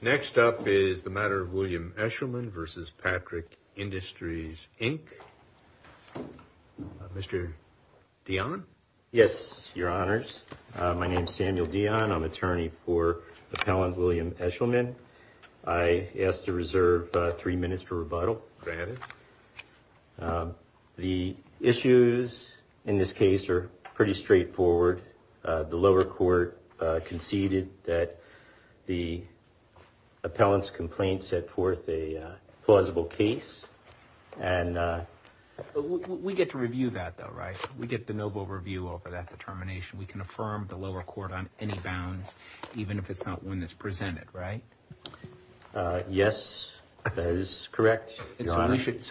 Next up is the matter of William Eshleman v. Patrick Industries, Inc. Mr. Dionne? Yes, Your Honors. My name is Samuel Dionne. I'm attorney for Appellant William Eshleman. I ask to reserve three minutes for rebuttal. Go ahead. The issues in this case are pretty straightforward. The lower court conceded that the appellant's complaint set forth a plausible case. We get to review that, though, right? We get the noble review over that determination. We can affirm the lower court on any bounds, even if it's not one that's presented, right? So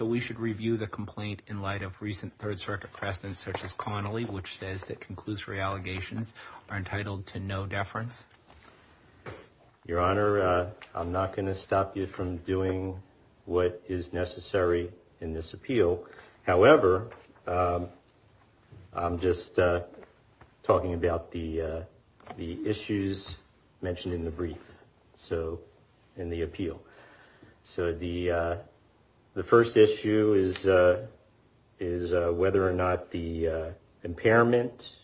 we should review the complaint in light of recent Third Circuit precedents such as Connolly, which says that conclusory allegations are entitled to no deference? Your Honor, I'm not going to stop you from doing what is necessary in this appeal. However, I'm just talking about the issues mentioned in the brief, so in the appeal. So the first issue is whether or not the impairment,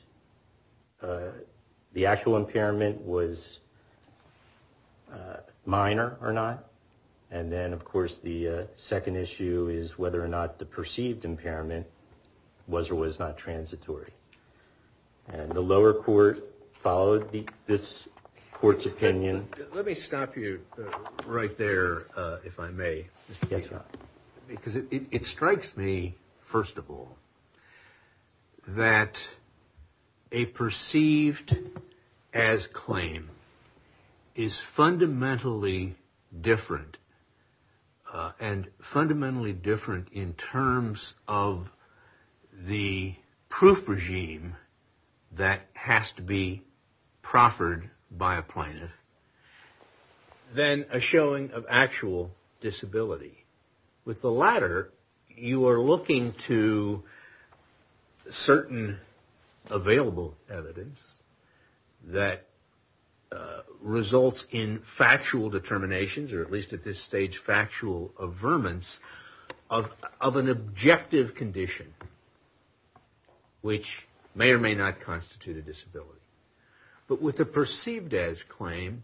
the actual impairment, was minor or not. And then, of course, the second issue is whether or not the perceived impairment was or was not transitory. And the lower court followed this court's opinion. Let me stop you right there, if I may. Yes, Your Honor. Because it strikes me, first of all, that a perceived as claim is fundamentally different, and fundamentally different in terms of the proof regime that has to be proffered by a plaintiff than a showing of actual disability. With the latter, you are looking to certain available evidence that results in factual determinations, or at least at this stage, factual averments of an objective condition, which may or may not constitute a disability. But with a perceived as claim,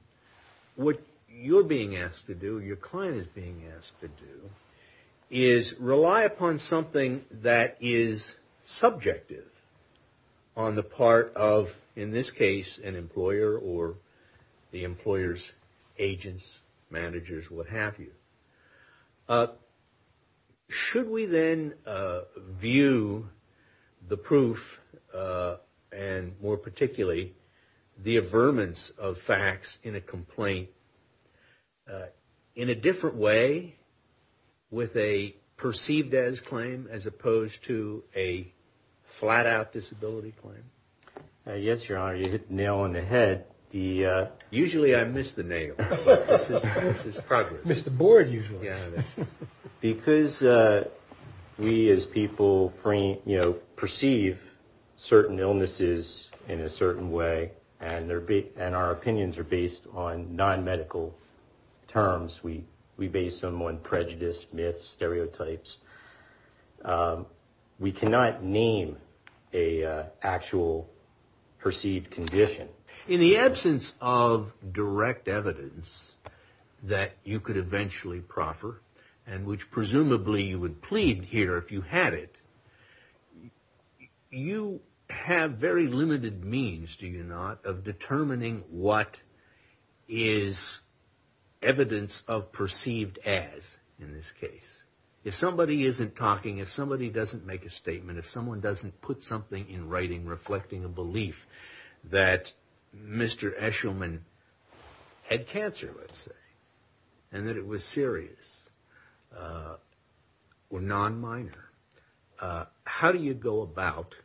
what you're being asked to do, your client is being asked to do, is rely upon something that is subjective on the part of, in this case, an employer or the employer's agents, managers, what have you. Should we then view the proof, and more particularly, the averments of facts in a complaint in a different way with a perceived as claim, as opposed to a flat out disability claim? Yes, Your Honor. You hit the nail on the head. Usually I miss the nail. This is progress. I miss the board usually. Because we as people perceive certain illnesses in a certain way, and our opinions are based on non-medical terms, we base them on prejudice, myths, stereotypes, we cannot name an actual perceived condition. In the absence of direct evidence that you could eventually proffer, and which presumably you would plead here if you had it, you have very limited means, do you not, of determining what is evidence of perceived as, in this case. If somebody isn't talking, if somebody doesn't make a statement, if someone doesn't put something in writing reflecting a belief that Mr. Eshelman had cancer, let's say, and that it was serious, or non-minor, how do you go about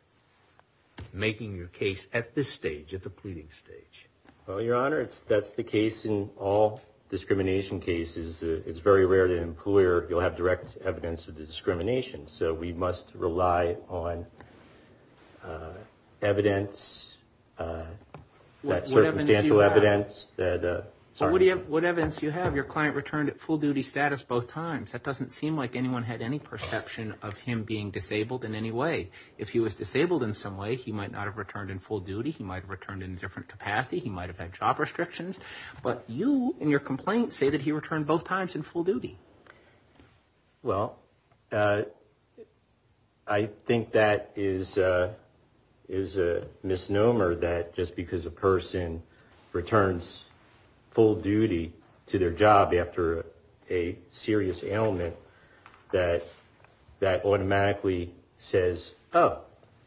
making your case at this stage, at the pleading stage? Well, Your Honor, that's the case in all discrimination cases. It's very rare that an employer, you'll have direct evidence of the discrimination. So we must rely on evidence, that circumstantial evidence. What evidence do you have? Your client returned at full duty status both times. That doesn't seem like anyone had any perception of him being disabled in any way. If he was disabled in some way, he might not have returned in full duty. He might have returned in a different capacity. He might have had job restrictions. But you, in your complaint, say that he returned both times in full duty. Well, I think that is a misnomer that just because a person returns full duty to their job after a serious ailment, that automatically says, oh,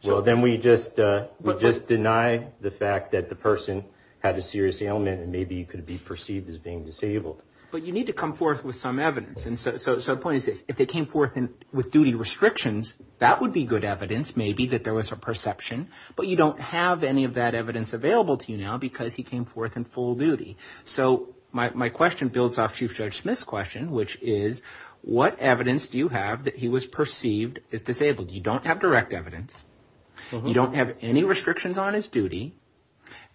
well, then we just deny the fact that the person had a serious ailment and maybe could be perceived as being disabled. But you need to come forth with some evidence. And so the point is this. If they came forth with duty restrictions, that would be good evidence, maybe, that there was a perception. But you don't have any of that evidence available to you now because he came forth in full duty. So my question builds off Chief Judge Smith's question, which is, what evidence do you have that he was perceived as disabled? You don't have direct evidence. You don't have any restrictions on his duty.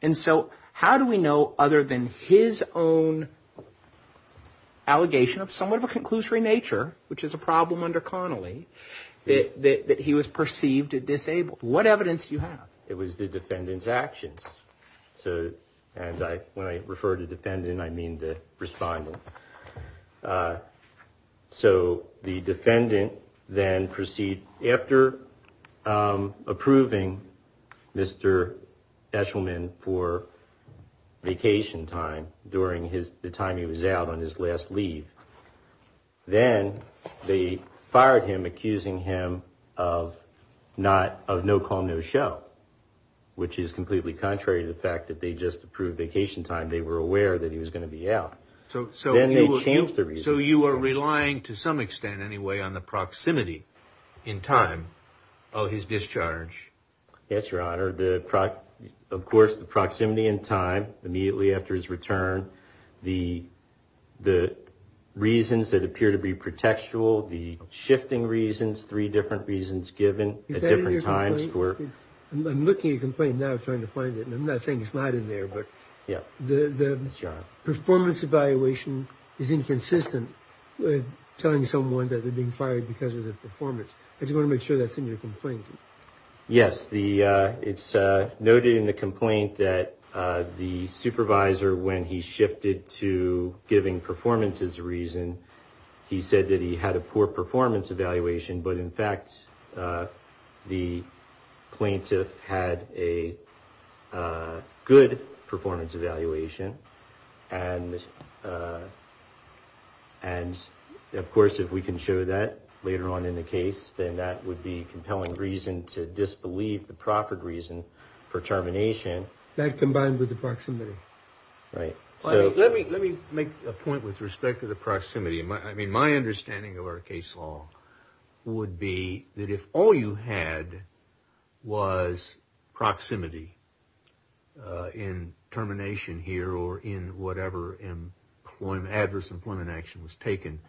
And so how do we know, other than his own allegation of somewhat of a conclusory nature, which is a problem under Connolly, that he was perceived as disabled? It was the defendant's actions. And when I refer to defendant, I mean the respondent. So the defendant then proceeded, after approving Mr. Eshelman for vacation time during the time he was out on his last leave, then they fired him, accusing him of no call, no show, which is completely contrary to the fact that they just approved vacation time. They were aware that he was going to be out. Then they changed the reasoning. So you are relying, to some extent anyway, on the proximity in time of his discharge. Yes, Your Honor. Of course, the proximity in time immediately after his return, the reasons that appear to be pretextual, the shifting reasons, three different reasons given at different times. I'm looking at your complaint now, trying to find it. And I'm not saying it's not in there, but the performance evaluation is inconsistent with telling someone that they're being fired because of their performance. I just want to make sure that's in your complaint. Yes, it's noted in the complaint that the supervisor, when he shifted to giving performances a reason, he said that he had a poor performance evaluation, but in fact, the plaintiff had a good performance evaluation. And of course, if we can show that later on in the case, then that would be compelling reason to disbelieve the proper reason for termination. That combined with the proximity. Right. Let me make a point with respect to the proximity. I mean, my understanding of our case law would be that if all you had was proximity in termination here or in whatever adverse employment action was taken,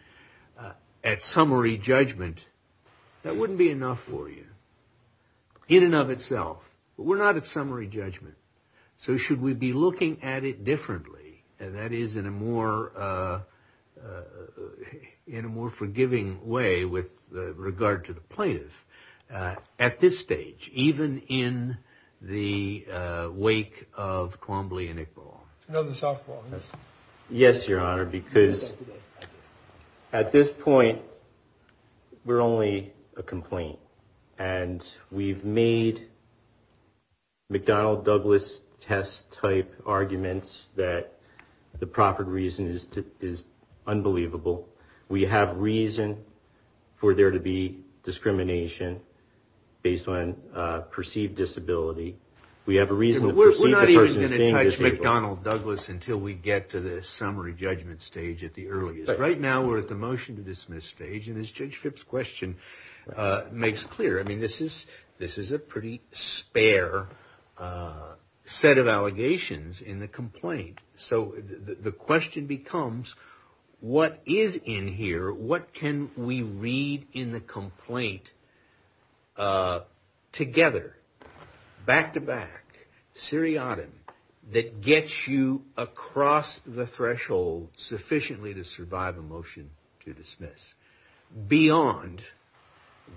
at summary judgment, that wouldn't be enough for you. In and of itself. But we're not at summary judgment. So should we be looking at it differently, and that is in a more forgiving way with regard to the plaintiff, at this stage, even in the wake of Quambly and Iqbal. Yes, Your Honor, because at this point, we're only a complaint. And we've made McDonnell Douglas test type arguments that the proper reason is unbelievable. We have reason for there to be discrimination based on perceived disability. We have a reason to perceive the person as being disabled. We're not even going to touch McDonnell Douglas until we get to the summary judgment stage at the earliest. Right now, we're at the motion to dismiss stage, and as Judge Phipps' question makes clear, I mean, this is a pretty spare set of allegations in the complaint. So the question becomes, what is in here? What can we read in the complaint together, back-to-back, seriatim, that gets you across the threshold sufficiently to survive a motion to dismiss, beyond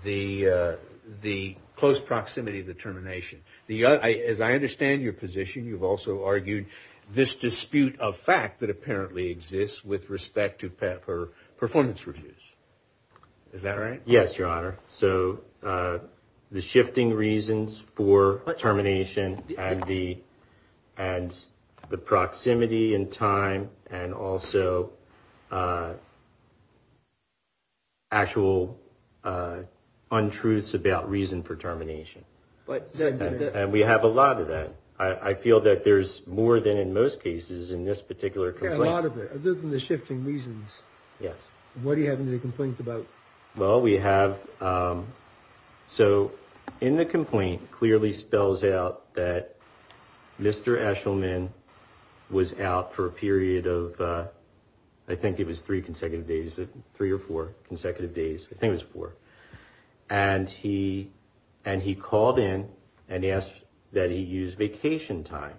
the close proximity of the termination? As I understand your position, you've also argued this dispute of fact that apparently exists with respect to performance reviews. Is that right? Yes, Your Honor. So the shifting reasons for termination and the proximity in time and also actual untruths about reason for termination. And we have a lot of that. I feel that there's more than in most cases in this particular complaint. There's a lot of it, other than the shifting reasons. Yes. What do you have in the complaint about? Well, we have, so in the complaint clearly spells out that Mr. Eshelman was out for a period of, I think it was three consecutive days, three or four consecutive days, I think it was four. And he called in and he asked that he use vacation time.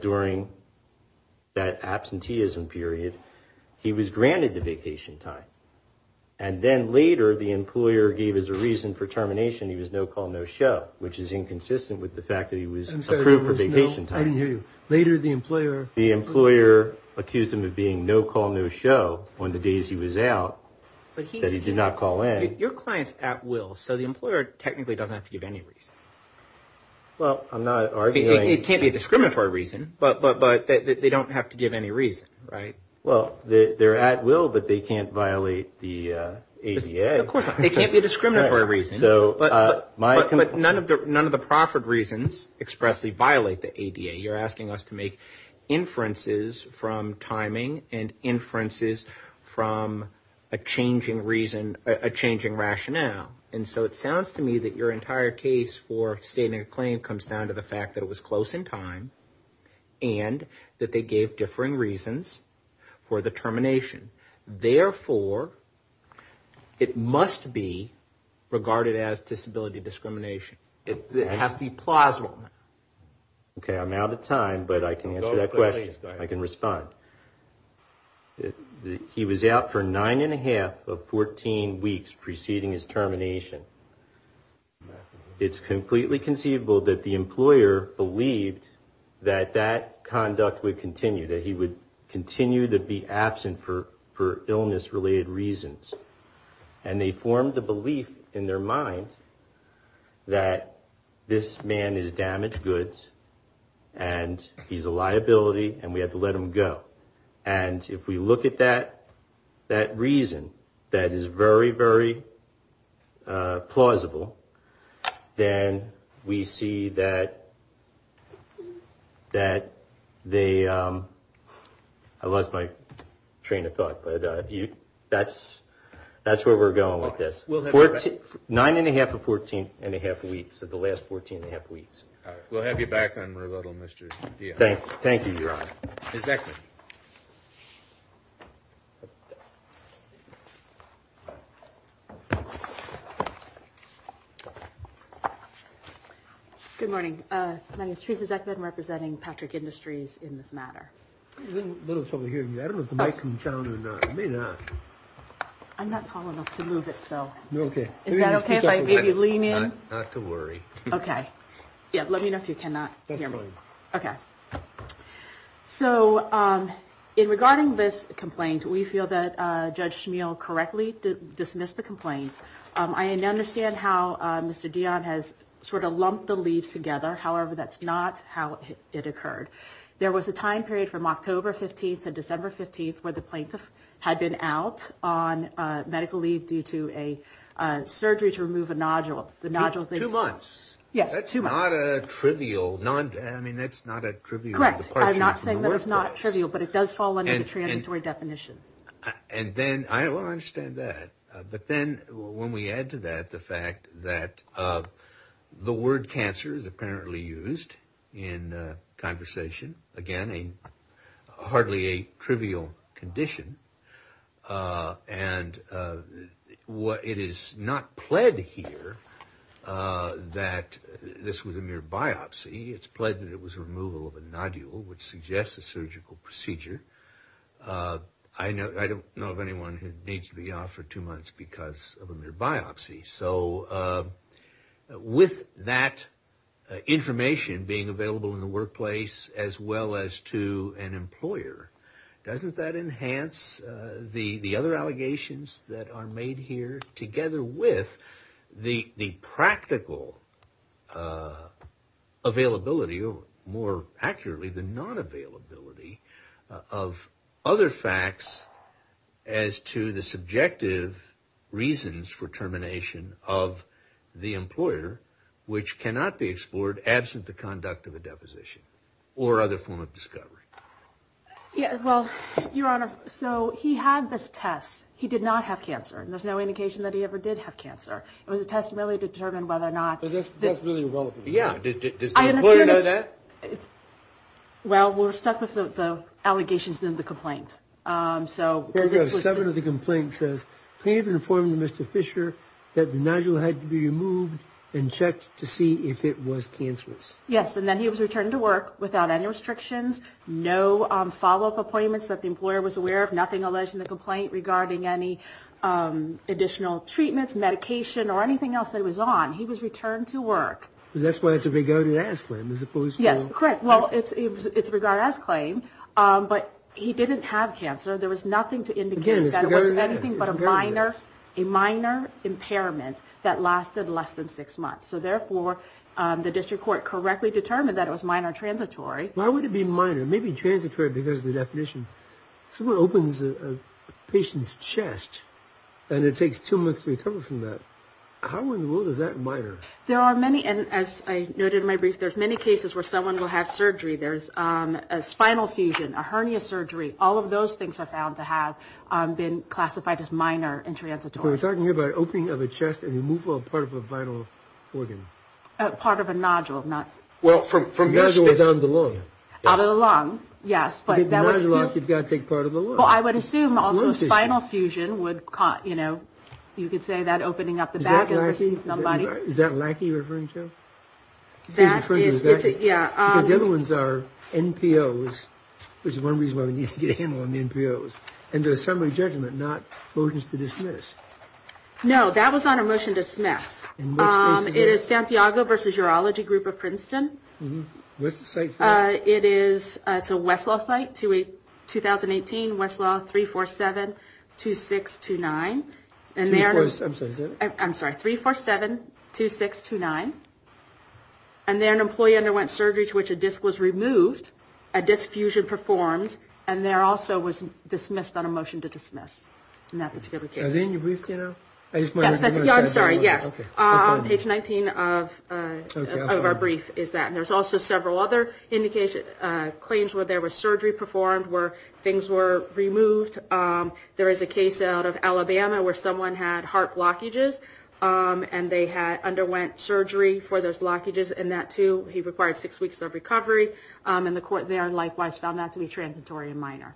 During that absenteeism period, he was granted the vacation time. And then later the employer gave us a reason for termination. He was no call, no show, which is inconsistent with the fact that he was approved for vacation time. I didn't hear you. Later the employer... The employer accused him of being no call, no show on the days he was out, that he did not call in. So the client's at will, so the employer technically doesn't have to give any reason. Well, I'm not arguing... It can't be a discriminatory reason. But they don't have to give any reason, right? Well, they're at will, but they can't violate the ADA. Of course not. They can't be a discriminatory reason. You're asking us to make inferences from timing and inferences from a changing reason, a changing rationale. And so it sounds to me that your entire case for stating a claim comes down to the fact that it was close in time and that they gave differing reasons for the termination. Therefore, it must be regarded as disability discrimination. It has to be plausible. Okay, I'm out of time, but I can answer that question. I can respond. He was out for nine and a half of 14 weeks preceding his termination. It's completely conceivable that the employer believed that that conduct would continue, that he would continue to be absent for illness-related reasons. And they formed a belief in their mind that this man is damaged goods and he's a liability and we have to let him go. And if we look at that reason that is very, very plausible, then we see that they, I lost my train of thought, but that's where we're going with this. Nine and a half or 14 and a half weeks of the last 14 and a half weeks. We'll have you back on rebuttal, Mr. Diaz. Thank you, Your Honor. Mr. Zeckman. Good morning. My name is Teresa Zeckman representing Patrick Industries in this matter. I have a little trouble hearing you. I don't know if the mic is on or not. I'm not tall enough to move it, so. Okay. Is that okay if I maybe lean in? Not to worry. Okay. Yeah, let me know if you cannot hear me. That's fine. Okay. So, in regarding this complaint, we feel that Judge Schmeel correctly dismissed the complaint. I understand how Mr. Dion has sort of lumped the leaves together. However, that's not how it occurred. There was a time period from October 15th to December 15th where the plaintiff had been out on medical leave due to a surgery to remove a nodule. Two months. Yes. That's not a trivial. I mean, that's not a trivial. Correct. I'm not saying that it's not trivial, but it does fall under the transitory definition. And then, I understand that. But then, when we add to that the fact that the word cancer is apparently used in conversation. Again, hardly a trivial condition. And it is not pled here that this was a mere biopsy. It's pled that it was removal of a nodule, which suggests a surgical procedure. I don't know of anyone who needs to be off for two months because of a mere biopsy. So, with that information being available in the workplace as well as to an employer, doesn't that enhance the other allegations that are made here together with the practical availability, or more accurately, the non-availability of other facts as to the subjective reasons for termination of the employer, which cannot be explored absent the conduct of a deposition or other form of discovery? Well, Your Honor, so he had this test. He did not have cancer, and there's no indication that he ever did have cancer. It was a test to really determine whether or not. But that's really irrelevant. Yeah, does the employer know that? Well, we're stuck with the allegations in the complaint. So, seven of the complaints says, Please inform Mr. Fisher that the nodule had to be removed and checked to see if it was cancerous. Yes, and then he was returned to work without any restrictions, no follow-up appointments that the employer was aware of, nothing alleged in the complaint regarding any additional treatments, medication, or anything else that he was on. He was returned to work. And that's why it's a regarded-as claim, as opposed to... Yes, correct. Well, it's a regarded-as claim. But he didn't have cancer. There was nothing to indicate that it was anything but a minor impairment that lasted less than six months. So, therefore, the district court correctly determined that it was minor transitory. Why would it be minor? It may be transitory because of the definition. Someone opens a patient's chest, and it takes two months to recover from that. How in the world is that minor? There are many, and as I noted in my brief, there's many cases where someone will have surgery. There's a spinal fusion, a hernia surgery. All of those things are found to have been classified as minor and transitory. So we're talking here about opening of a chest and removal of part of a vital organ. Part of a nodule, not... Well, from your experience... The nodule is out of the lung. Out of the lung, yes, but that would still... The nodule, you've got to take part of the lung. Well, I would assume also spinal fusion would, you know, you could say that opening up the back of somebody. Is that a lackey you're referring to? That is... The other ones are NPOs, which is one reason why we need to get a handle on the NPOs. And the summary judgment, not motions to dismiss. No, that was on a motion to dismiss. It is Santiago versus Urology Group of Princeton. What's the site? It's a Westlaw site, 2018, Westlaw, 347-2629. I'm sorry, is that it? I'm sorry, 347-2629. And there an employee underwent surgery to which a disc was removed, a disc fusion performed, and there also was dismissed on a motion to dismiss in that particular case. Is that in your brief, you know? Yes, I'm sorry, yes. On page 19 of our brief is that. And there's also several other indications, claims where there was surgery performed, where things were removed. There is a case out of Alabama where someone had heart blockages, and they underwent surgery for those blockages, and that too, he required six weeks of recovery. And the court there likewise found that to be transitory and minor.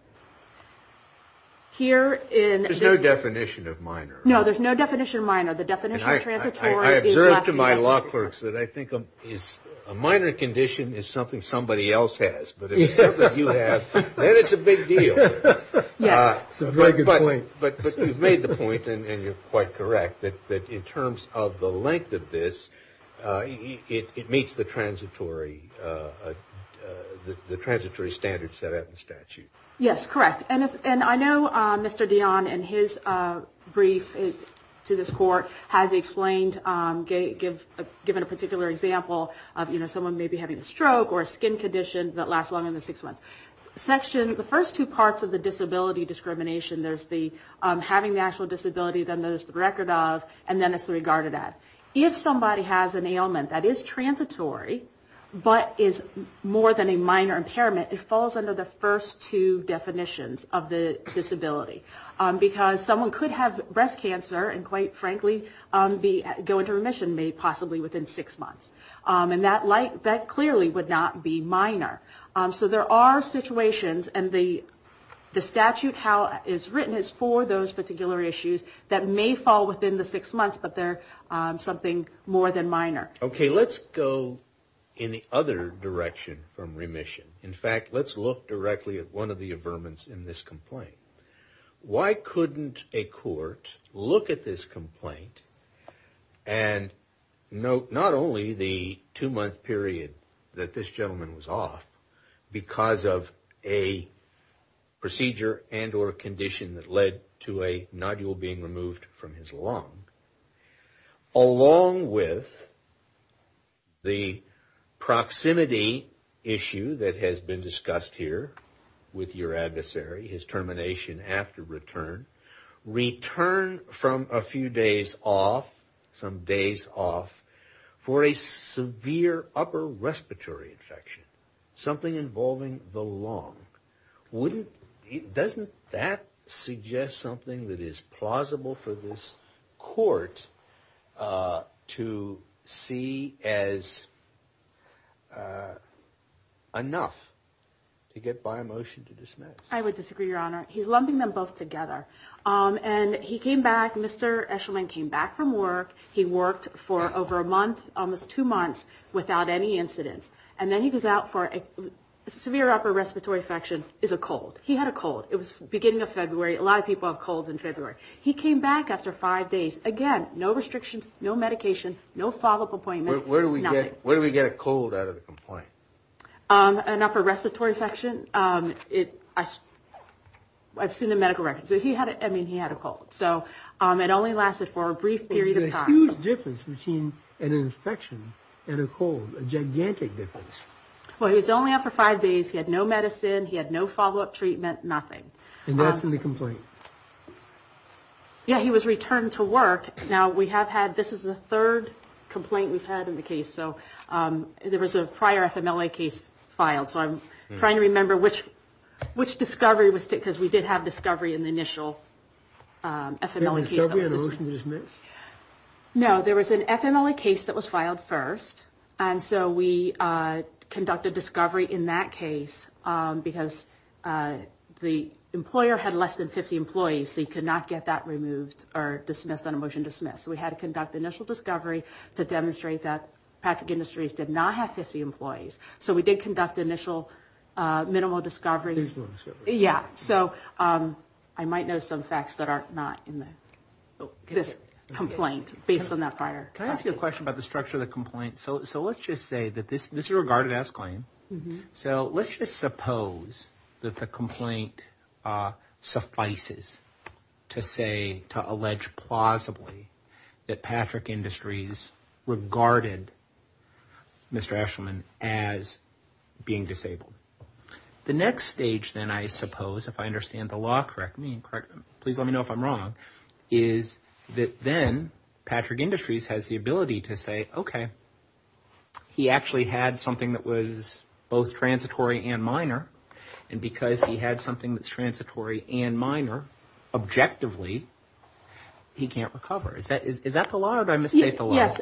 Here in... There's no definition of minor. No, there's no definition of minor. The definition of transitory... I observe to my law clerks that I think a minor condition is something somebody else has. But if it's something you have, then it's a big deal. Yes. But you've made the point, and you're quite correct, that in terms of the length of this, it meets the transitory standards set out in the statute. Yes, correct. And I know Mr. Dionne, in his brief to this court, has explained, given a particular example of, you know, someone maybe having a stroke or a skin condition that lasts longer than six months. Section... The first two parts of the disability discrimination, there's the having the actual disability, then there's the record of, and then it's regarded as. If somebody has an ailment that is transitory, but is more than a minor impairment, it falls under the first two definitions of the disability. Because someone could have breast cancer, and quite frankly, go into remission possibly within six months. And that clearly would not be minor. So there are situations, and the statute how it is written is for those particular issues that may fall within the six months, but they're something more than minor. Okay, let's go in the other direction from remission. In fact, let's look directly at one of the averments in this complaint. Why couldn't a court look at this complaint, and note not only the two-month period that this gentleman was off, because of a procedure and or a condition that led to a nodule being removed from his lung, along with the proximity issue that has been discussed here with your adversary, his termination after return, return from a few days off, some days off, for a severe upper respiratory infection. Something involving the lung. Doesn't that suggest something that is plausible for this court to see as enough to get by a motion to dismiss? I would disagree, Your Honor. He's lumping them both together. And he came back, Mr. Eshelman came back from work. He worked for over a month, almost two months, without any incidents. And then he goes out for a severe upper respiratory infection. It's a cold. He had a cold. It was the beginning of February. A lot of people have colds in February. He came back after five days. Again, no restrictions, no medication, no follow-up appointments, nothing. Where do we get a cold out of the complaint? An upper respiratory infection. I've seen the medical records. I mean, he had a cold. So it only lasted for a brief period of time. There's a huge difference between an infection and a cold. A gigantic difference. Well, he was only out for five days. He had no medicine. He had no follow-up treatment, nothing. And that's in the complaint? Yeah, he was returned to work. Now, we have had, this is the third complaint we've had in the case. So there was a prior FMLA case filed. So I'm trying to remember which discovery was, because we did have discovery in the initial FMLA case. There was discovery and a motion to dismiss? No, there was an FMLA case that was filed first. And so we conducted discovery in that case, because the employer had less than 50 employees, so you could not get that removed or dismissed on a motion to dismiss. So we had to conduct initial discovery to demonstrate that Patrick Industries did not have 50 employees. So we did conduct initial minimal discovery. Minimal discovery. Yeah, so I might know some facts that are not in this complaint, based on that prior. Can I ask you a question about the structure of the complaint? So let's just say that this is a regarded as claim. So let's just suppose that the complaint suffices to say, to allege plausibly, that Patrick Industries regarded Mr. Eshelman as being disabled. The next stage then, I suppose, if I understand the law correctly, please let me know if I'm wrong, is that then Patrick Industries has the ability to say, okay, he actually had something that was both transitory and minor. And because he had something that's transitory and minor, objectively, he can't recover. Is that the law, or did I misstate the law? Yes,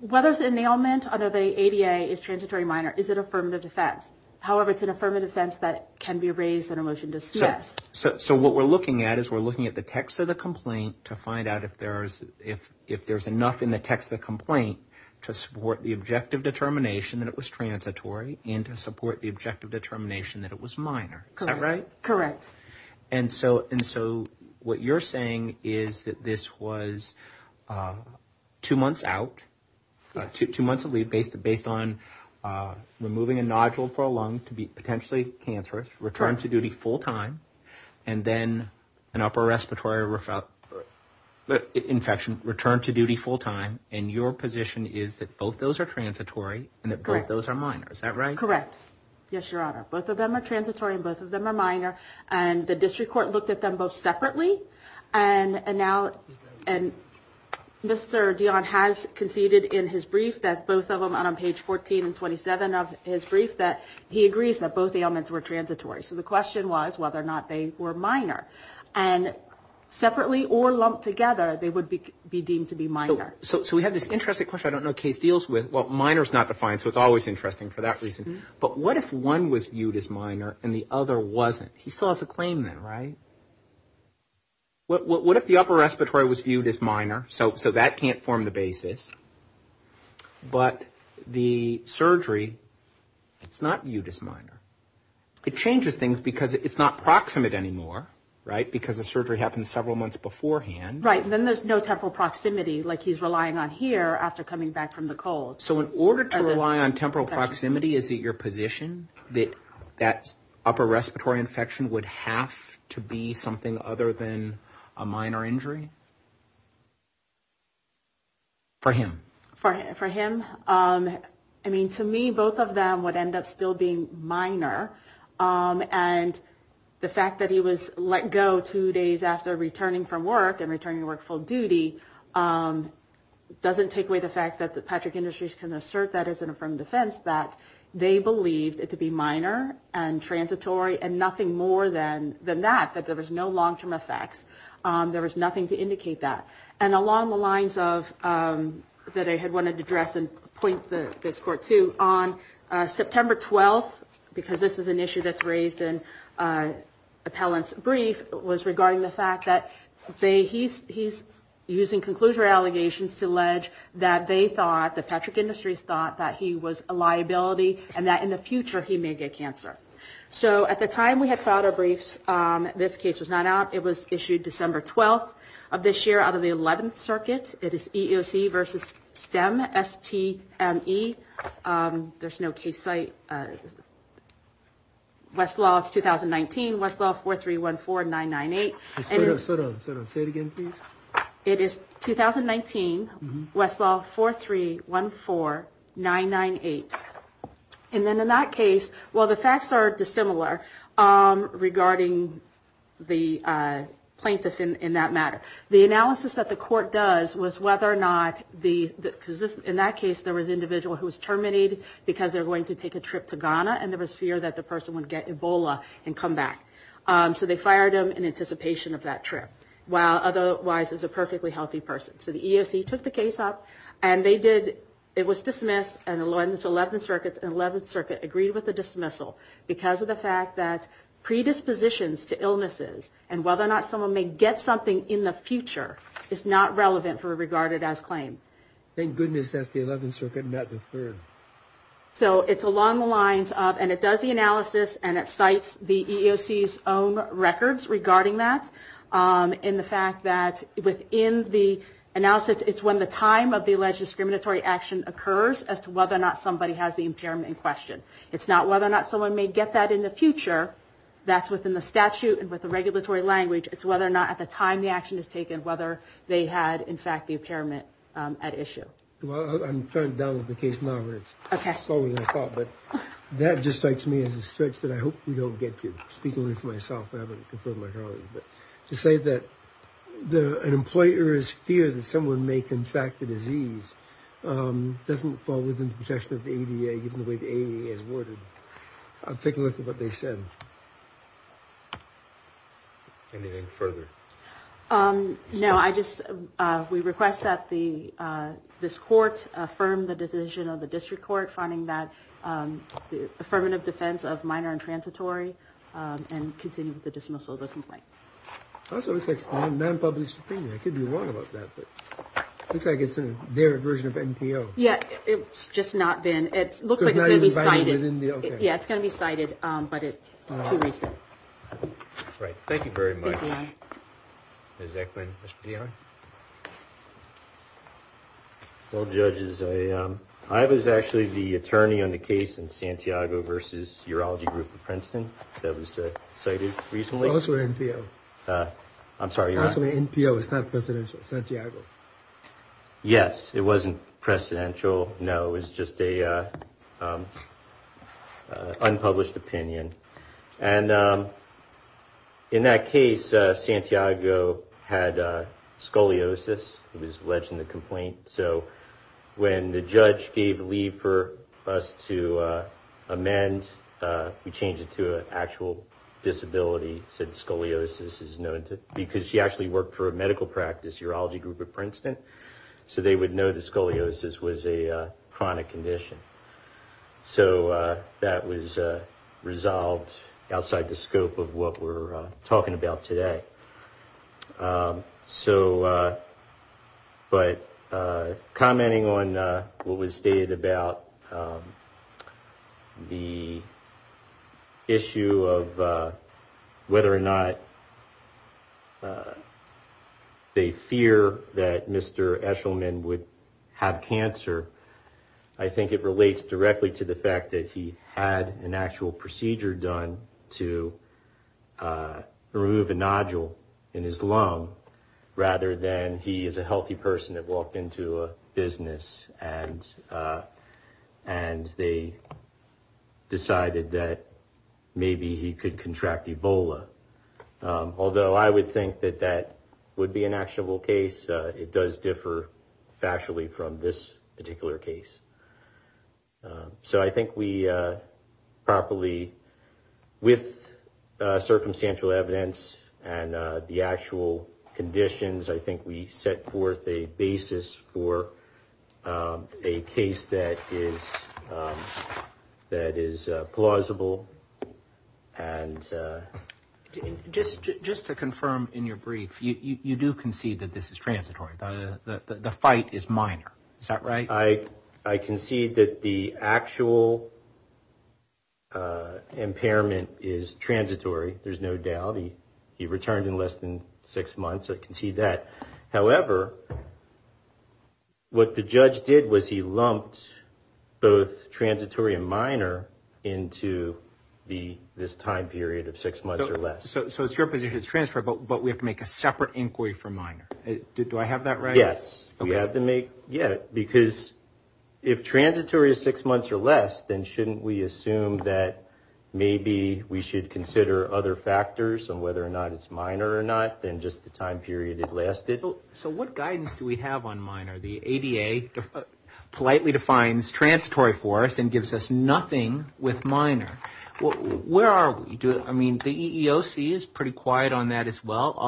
whether it's an inaliment under the ADA is transitory or minor, is an affirmative defense. However, it's an affirmative defense that can be raised in a motion to dismiss. So what we're looking at is we're looking at the text of the complaint to find out if there's enough in the text of the complaint to support the objective determination that it was transitory and to support the objective determination that it was minor. Is that right? Correct. And so what you're saying is that this was two months out, two months of leave based on removing a nodule for a lung infection to be potentially cancerous, returned to duty full time, and then an upper respiratory infection returned to duty full time. And your position is that both those are transitory and that both those are minor. Is that right? Correct. Yes, Your Honor. Both of them are transitory and both of them are minor. And the district court looked at them both separately. And now, and Mr. Dionne has conceded in his brief that both of them on page 14 and 27 of his brief agrees that both ailments were transitory. So the question was whether or not they were minor. And separately or lumped together, they would be deemed to be minor. So we have this interesting question I don't know the case deals with. Well, minor is not defined, so it's always interesting for that reason. But what if one was viewed as minor and the other wasn't? He still has a claim then, right? What if the upper respiratory was viewed as minor? So that can't form the basis. But the surgery, it's not viewed as minor. It changes things because it's not proximate anymore, right? Because the surgery happened several months beforehand. Right, and then there's no temporal proximity like he's relying on here after coming back from the cold. So in order to rely on temporal proximity, is it your position that that upper respiratory infection would have to be something other than a minor injury? For him. For him. I mean, to me, both of them would end up still being minor. And the fact that he was let go two days after returning from work and returning to work full duty doesn't take away the fact that the Patrick Industries can assert that as an affirmed defense that they believed it to be minor and transitory and nothing more than that, that there was no long-term effects. There was nothing to indicate that. And along the lines of, that I had wanted to address and point this court to, on September 12th, because this is an issue that's raised in Appellant's brief, was regarding the fact that he's using conclusive allegations to allege that they thought, that Patrick Industries thought that he was a liability and that in the future he may get cancer. So at the time we had filed our briefs, this case was not out. It was issued December 12th of this year out of the 11th circuit. It is EEOC versus STEM, S-T-M-E. There's no case site. Westlaw, it's 2019. Westlaw 4314998. Say it again, please. It is 2019. Westlaw 4314998. And then in that case, while the facts are dissimilar regarding the plaintiff in that matter, the analysis that the court does was whether or not the, because in that case there was an individual who was terminated because they were going to take a trip to Ghana and there was fear that the person would get Ebola and come back. So they fired him in anticipation of that trip, while otherwise it was a perfectly healthy person. So the EEOC took the case up and they did, it was dismissed in the 11th circuit and the 11th circuit agreed with the dismissal because of the fact that predispositions to illnesses and whether or not someone may get something in the future is not relevant for a regarded as claim. Thank goodness that's the 11th circuit, not the third. So it's along the lines of, and it does the analysis and it cites the EEOC's own records regarding that in the fact that within the analysis, it's when the time of the alleged discriminatory action occurs as to whether or not somebody has the impairment in question. It's not whether or not someone may get that in the future, that's within the statute and with the regulatory language, it's whether or not at the time the action is taken, whether they had in fact the impairment at issue. Well, I'm trying to download the case now, but it's slower than I thought, but that just strikes me as a stretch that I hope we don't get to. I'm speaking only for myself, I haven't confirmed my priorities, but to say that an employer's fear that someone may contract the disease doesn't fall within the protection of the ADA given the way the ADA is worded. I'm taking a look at what they said. Anything further? No, I just, we request that this court affirm the decision of the district court finding that affirmative defense of minor and transitory and continue with the dismissal of the complaint. That's what it looks like, non-public opinion. I could be wrong about that, but it looks like it's their version of NPO. Yeah, it's just not been, it looks like it's going to be cited. Yeah, it's going to be cited, but it's too recent. Right, thank you very much. Ms. Eckman, Mr. Piano? Well, judges, I was actually the attorney on the case in Santiago versus Urology Group of Princeton that was cited recently. It's also NPO. I'm sorry, you're on? Actually, NPO is not presidential, Santiago. Yes, it wasn't presidential, no. It was just a unpublished opinion. And in that case, Santiago had scoliosis. He was alleged in the complaint. So when the judge gave leave for us to amend, we changed it to an actual disability, said scoliosis is known to, because she actually worked for a medical practice, Urology Group of Princeton. So they would know that scoliosis was a chronic condition. So that was resolved outside the scope of what we're talking about today. So, but commenting on what was stated about the issue of whether or not they fear that Mr. Eshelman would have cancer, I think it relates directly to the fact that he had an actual procedure done to remove a nodule in his lung, rather than he is a healthy person that walked into a business and they decided that maybe he could contract Ebola. Although I would think that that would be an actionable case, it does differ factually from this particular case. So I think we properly, with circumstantial evidence and the actual conditions, I think we set forth a basis for a case that is plausible. And... Just to confirm in your brief, you do concede that this is transitory. The fight is minor. Is that right? I concede that the actual impairment is transitory. There's no doubt. He returned in less than six months. I concede that. However, what the judge did was he lumped both transitory and minor into this time period of six months or less. So it's your position it's transitory, but it's a separate inquiry for minor. Do I have that right? Yes. Because if transitory is six months or less, then shouldn't we assume that maybe we should consider other factors on whether or not it's minor or not than just the time period it lasted? So what guidance do we have on minor? The ADA politely defines transitory for us and gives us nothing with minor. Where are we? The EEOC is pretty quiet on that as well.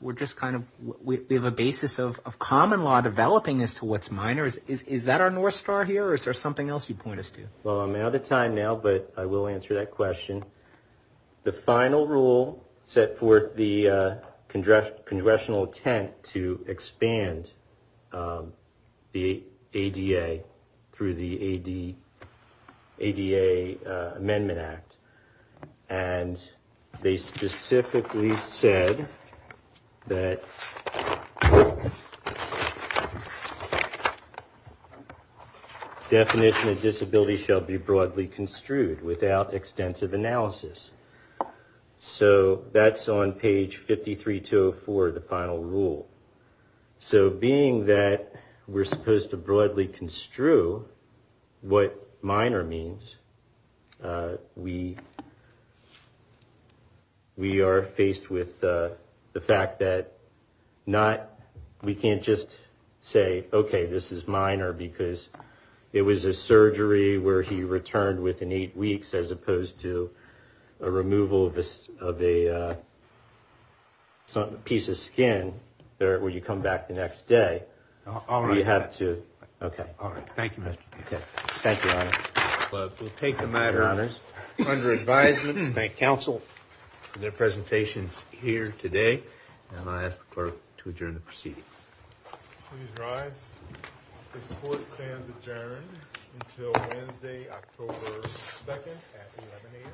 We're just kind of, we have a basis of common law developing as to what's minor. Is that our north star here or is there something else you'd point us to? Well, I'm out of time now, but I will answer that question. The final rule set forth the congressional intent to expand the ADA through the ADA Amendment Act. And they specifically said that definition of disability shall be broadly construed without extensive analysis. So that's on page 53-204, the final rule. So being that we're supposed to broadly construe what minor means, we are faced with the fact that we can't just say, okay, this is minor because it was a surgery where he returned within eight weeks as opposed to a removal of a piece of skin where you come back the next day. All right. Okay. All right. Thank you, Mr. Buchanan. Thank you, Your Honor. We'll take the matter under advisement of bank counsel for their presentations here today. And I ask the clerk to adjourn the proceedings. Please rise. This court stands adjourned until Wednesday, October 2nd at 11 a.m. Thank you.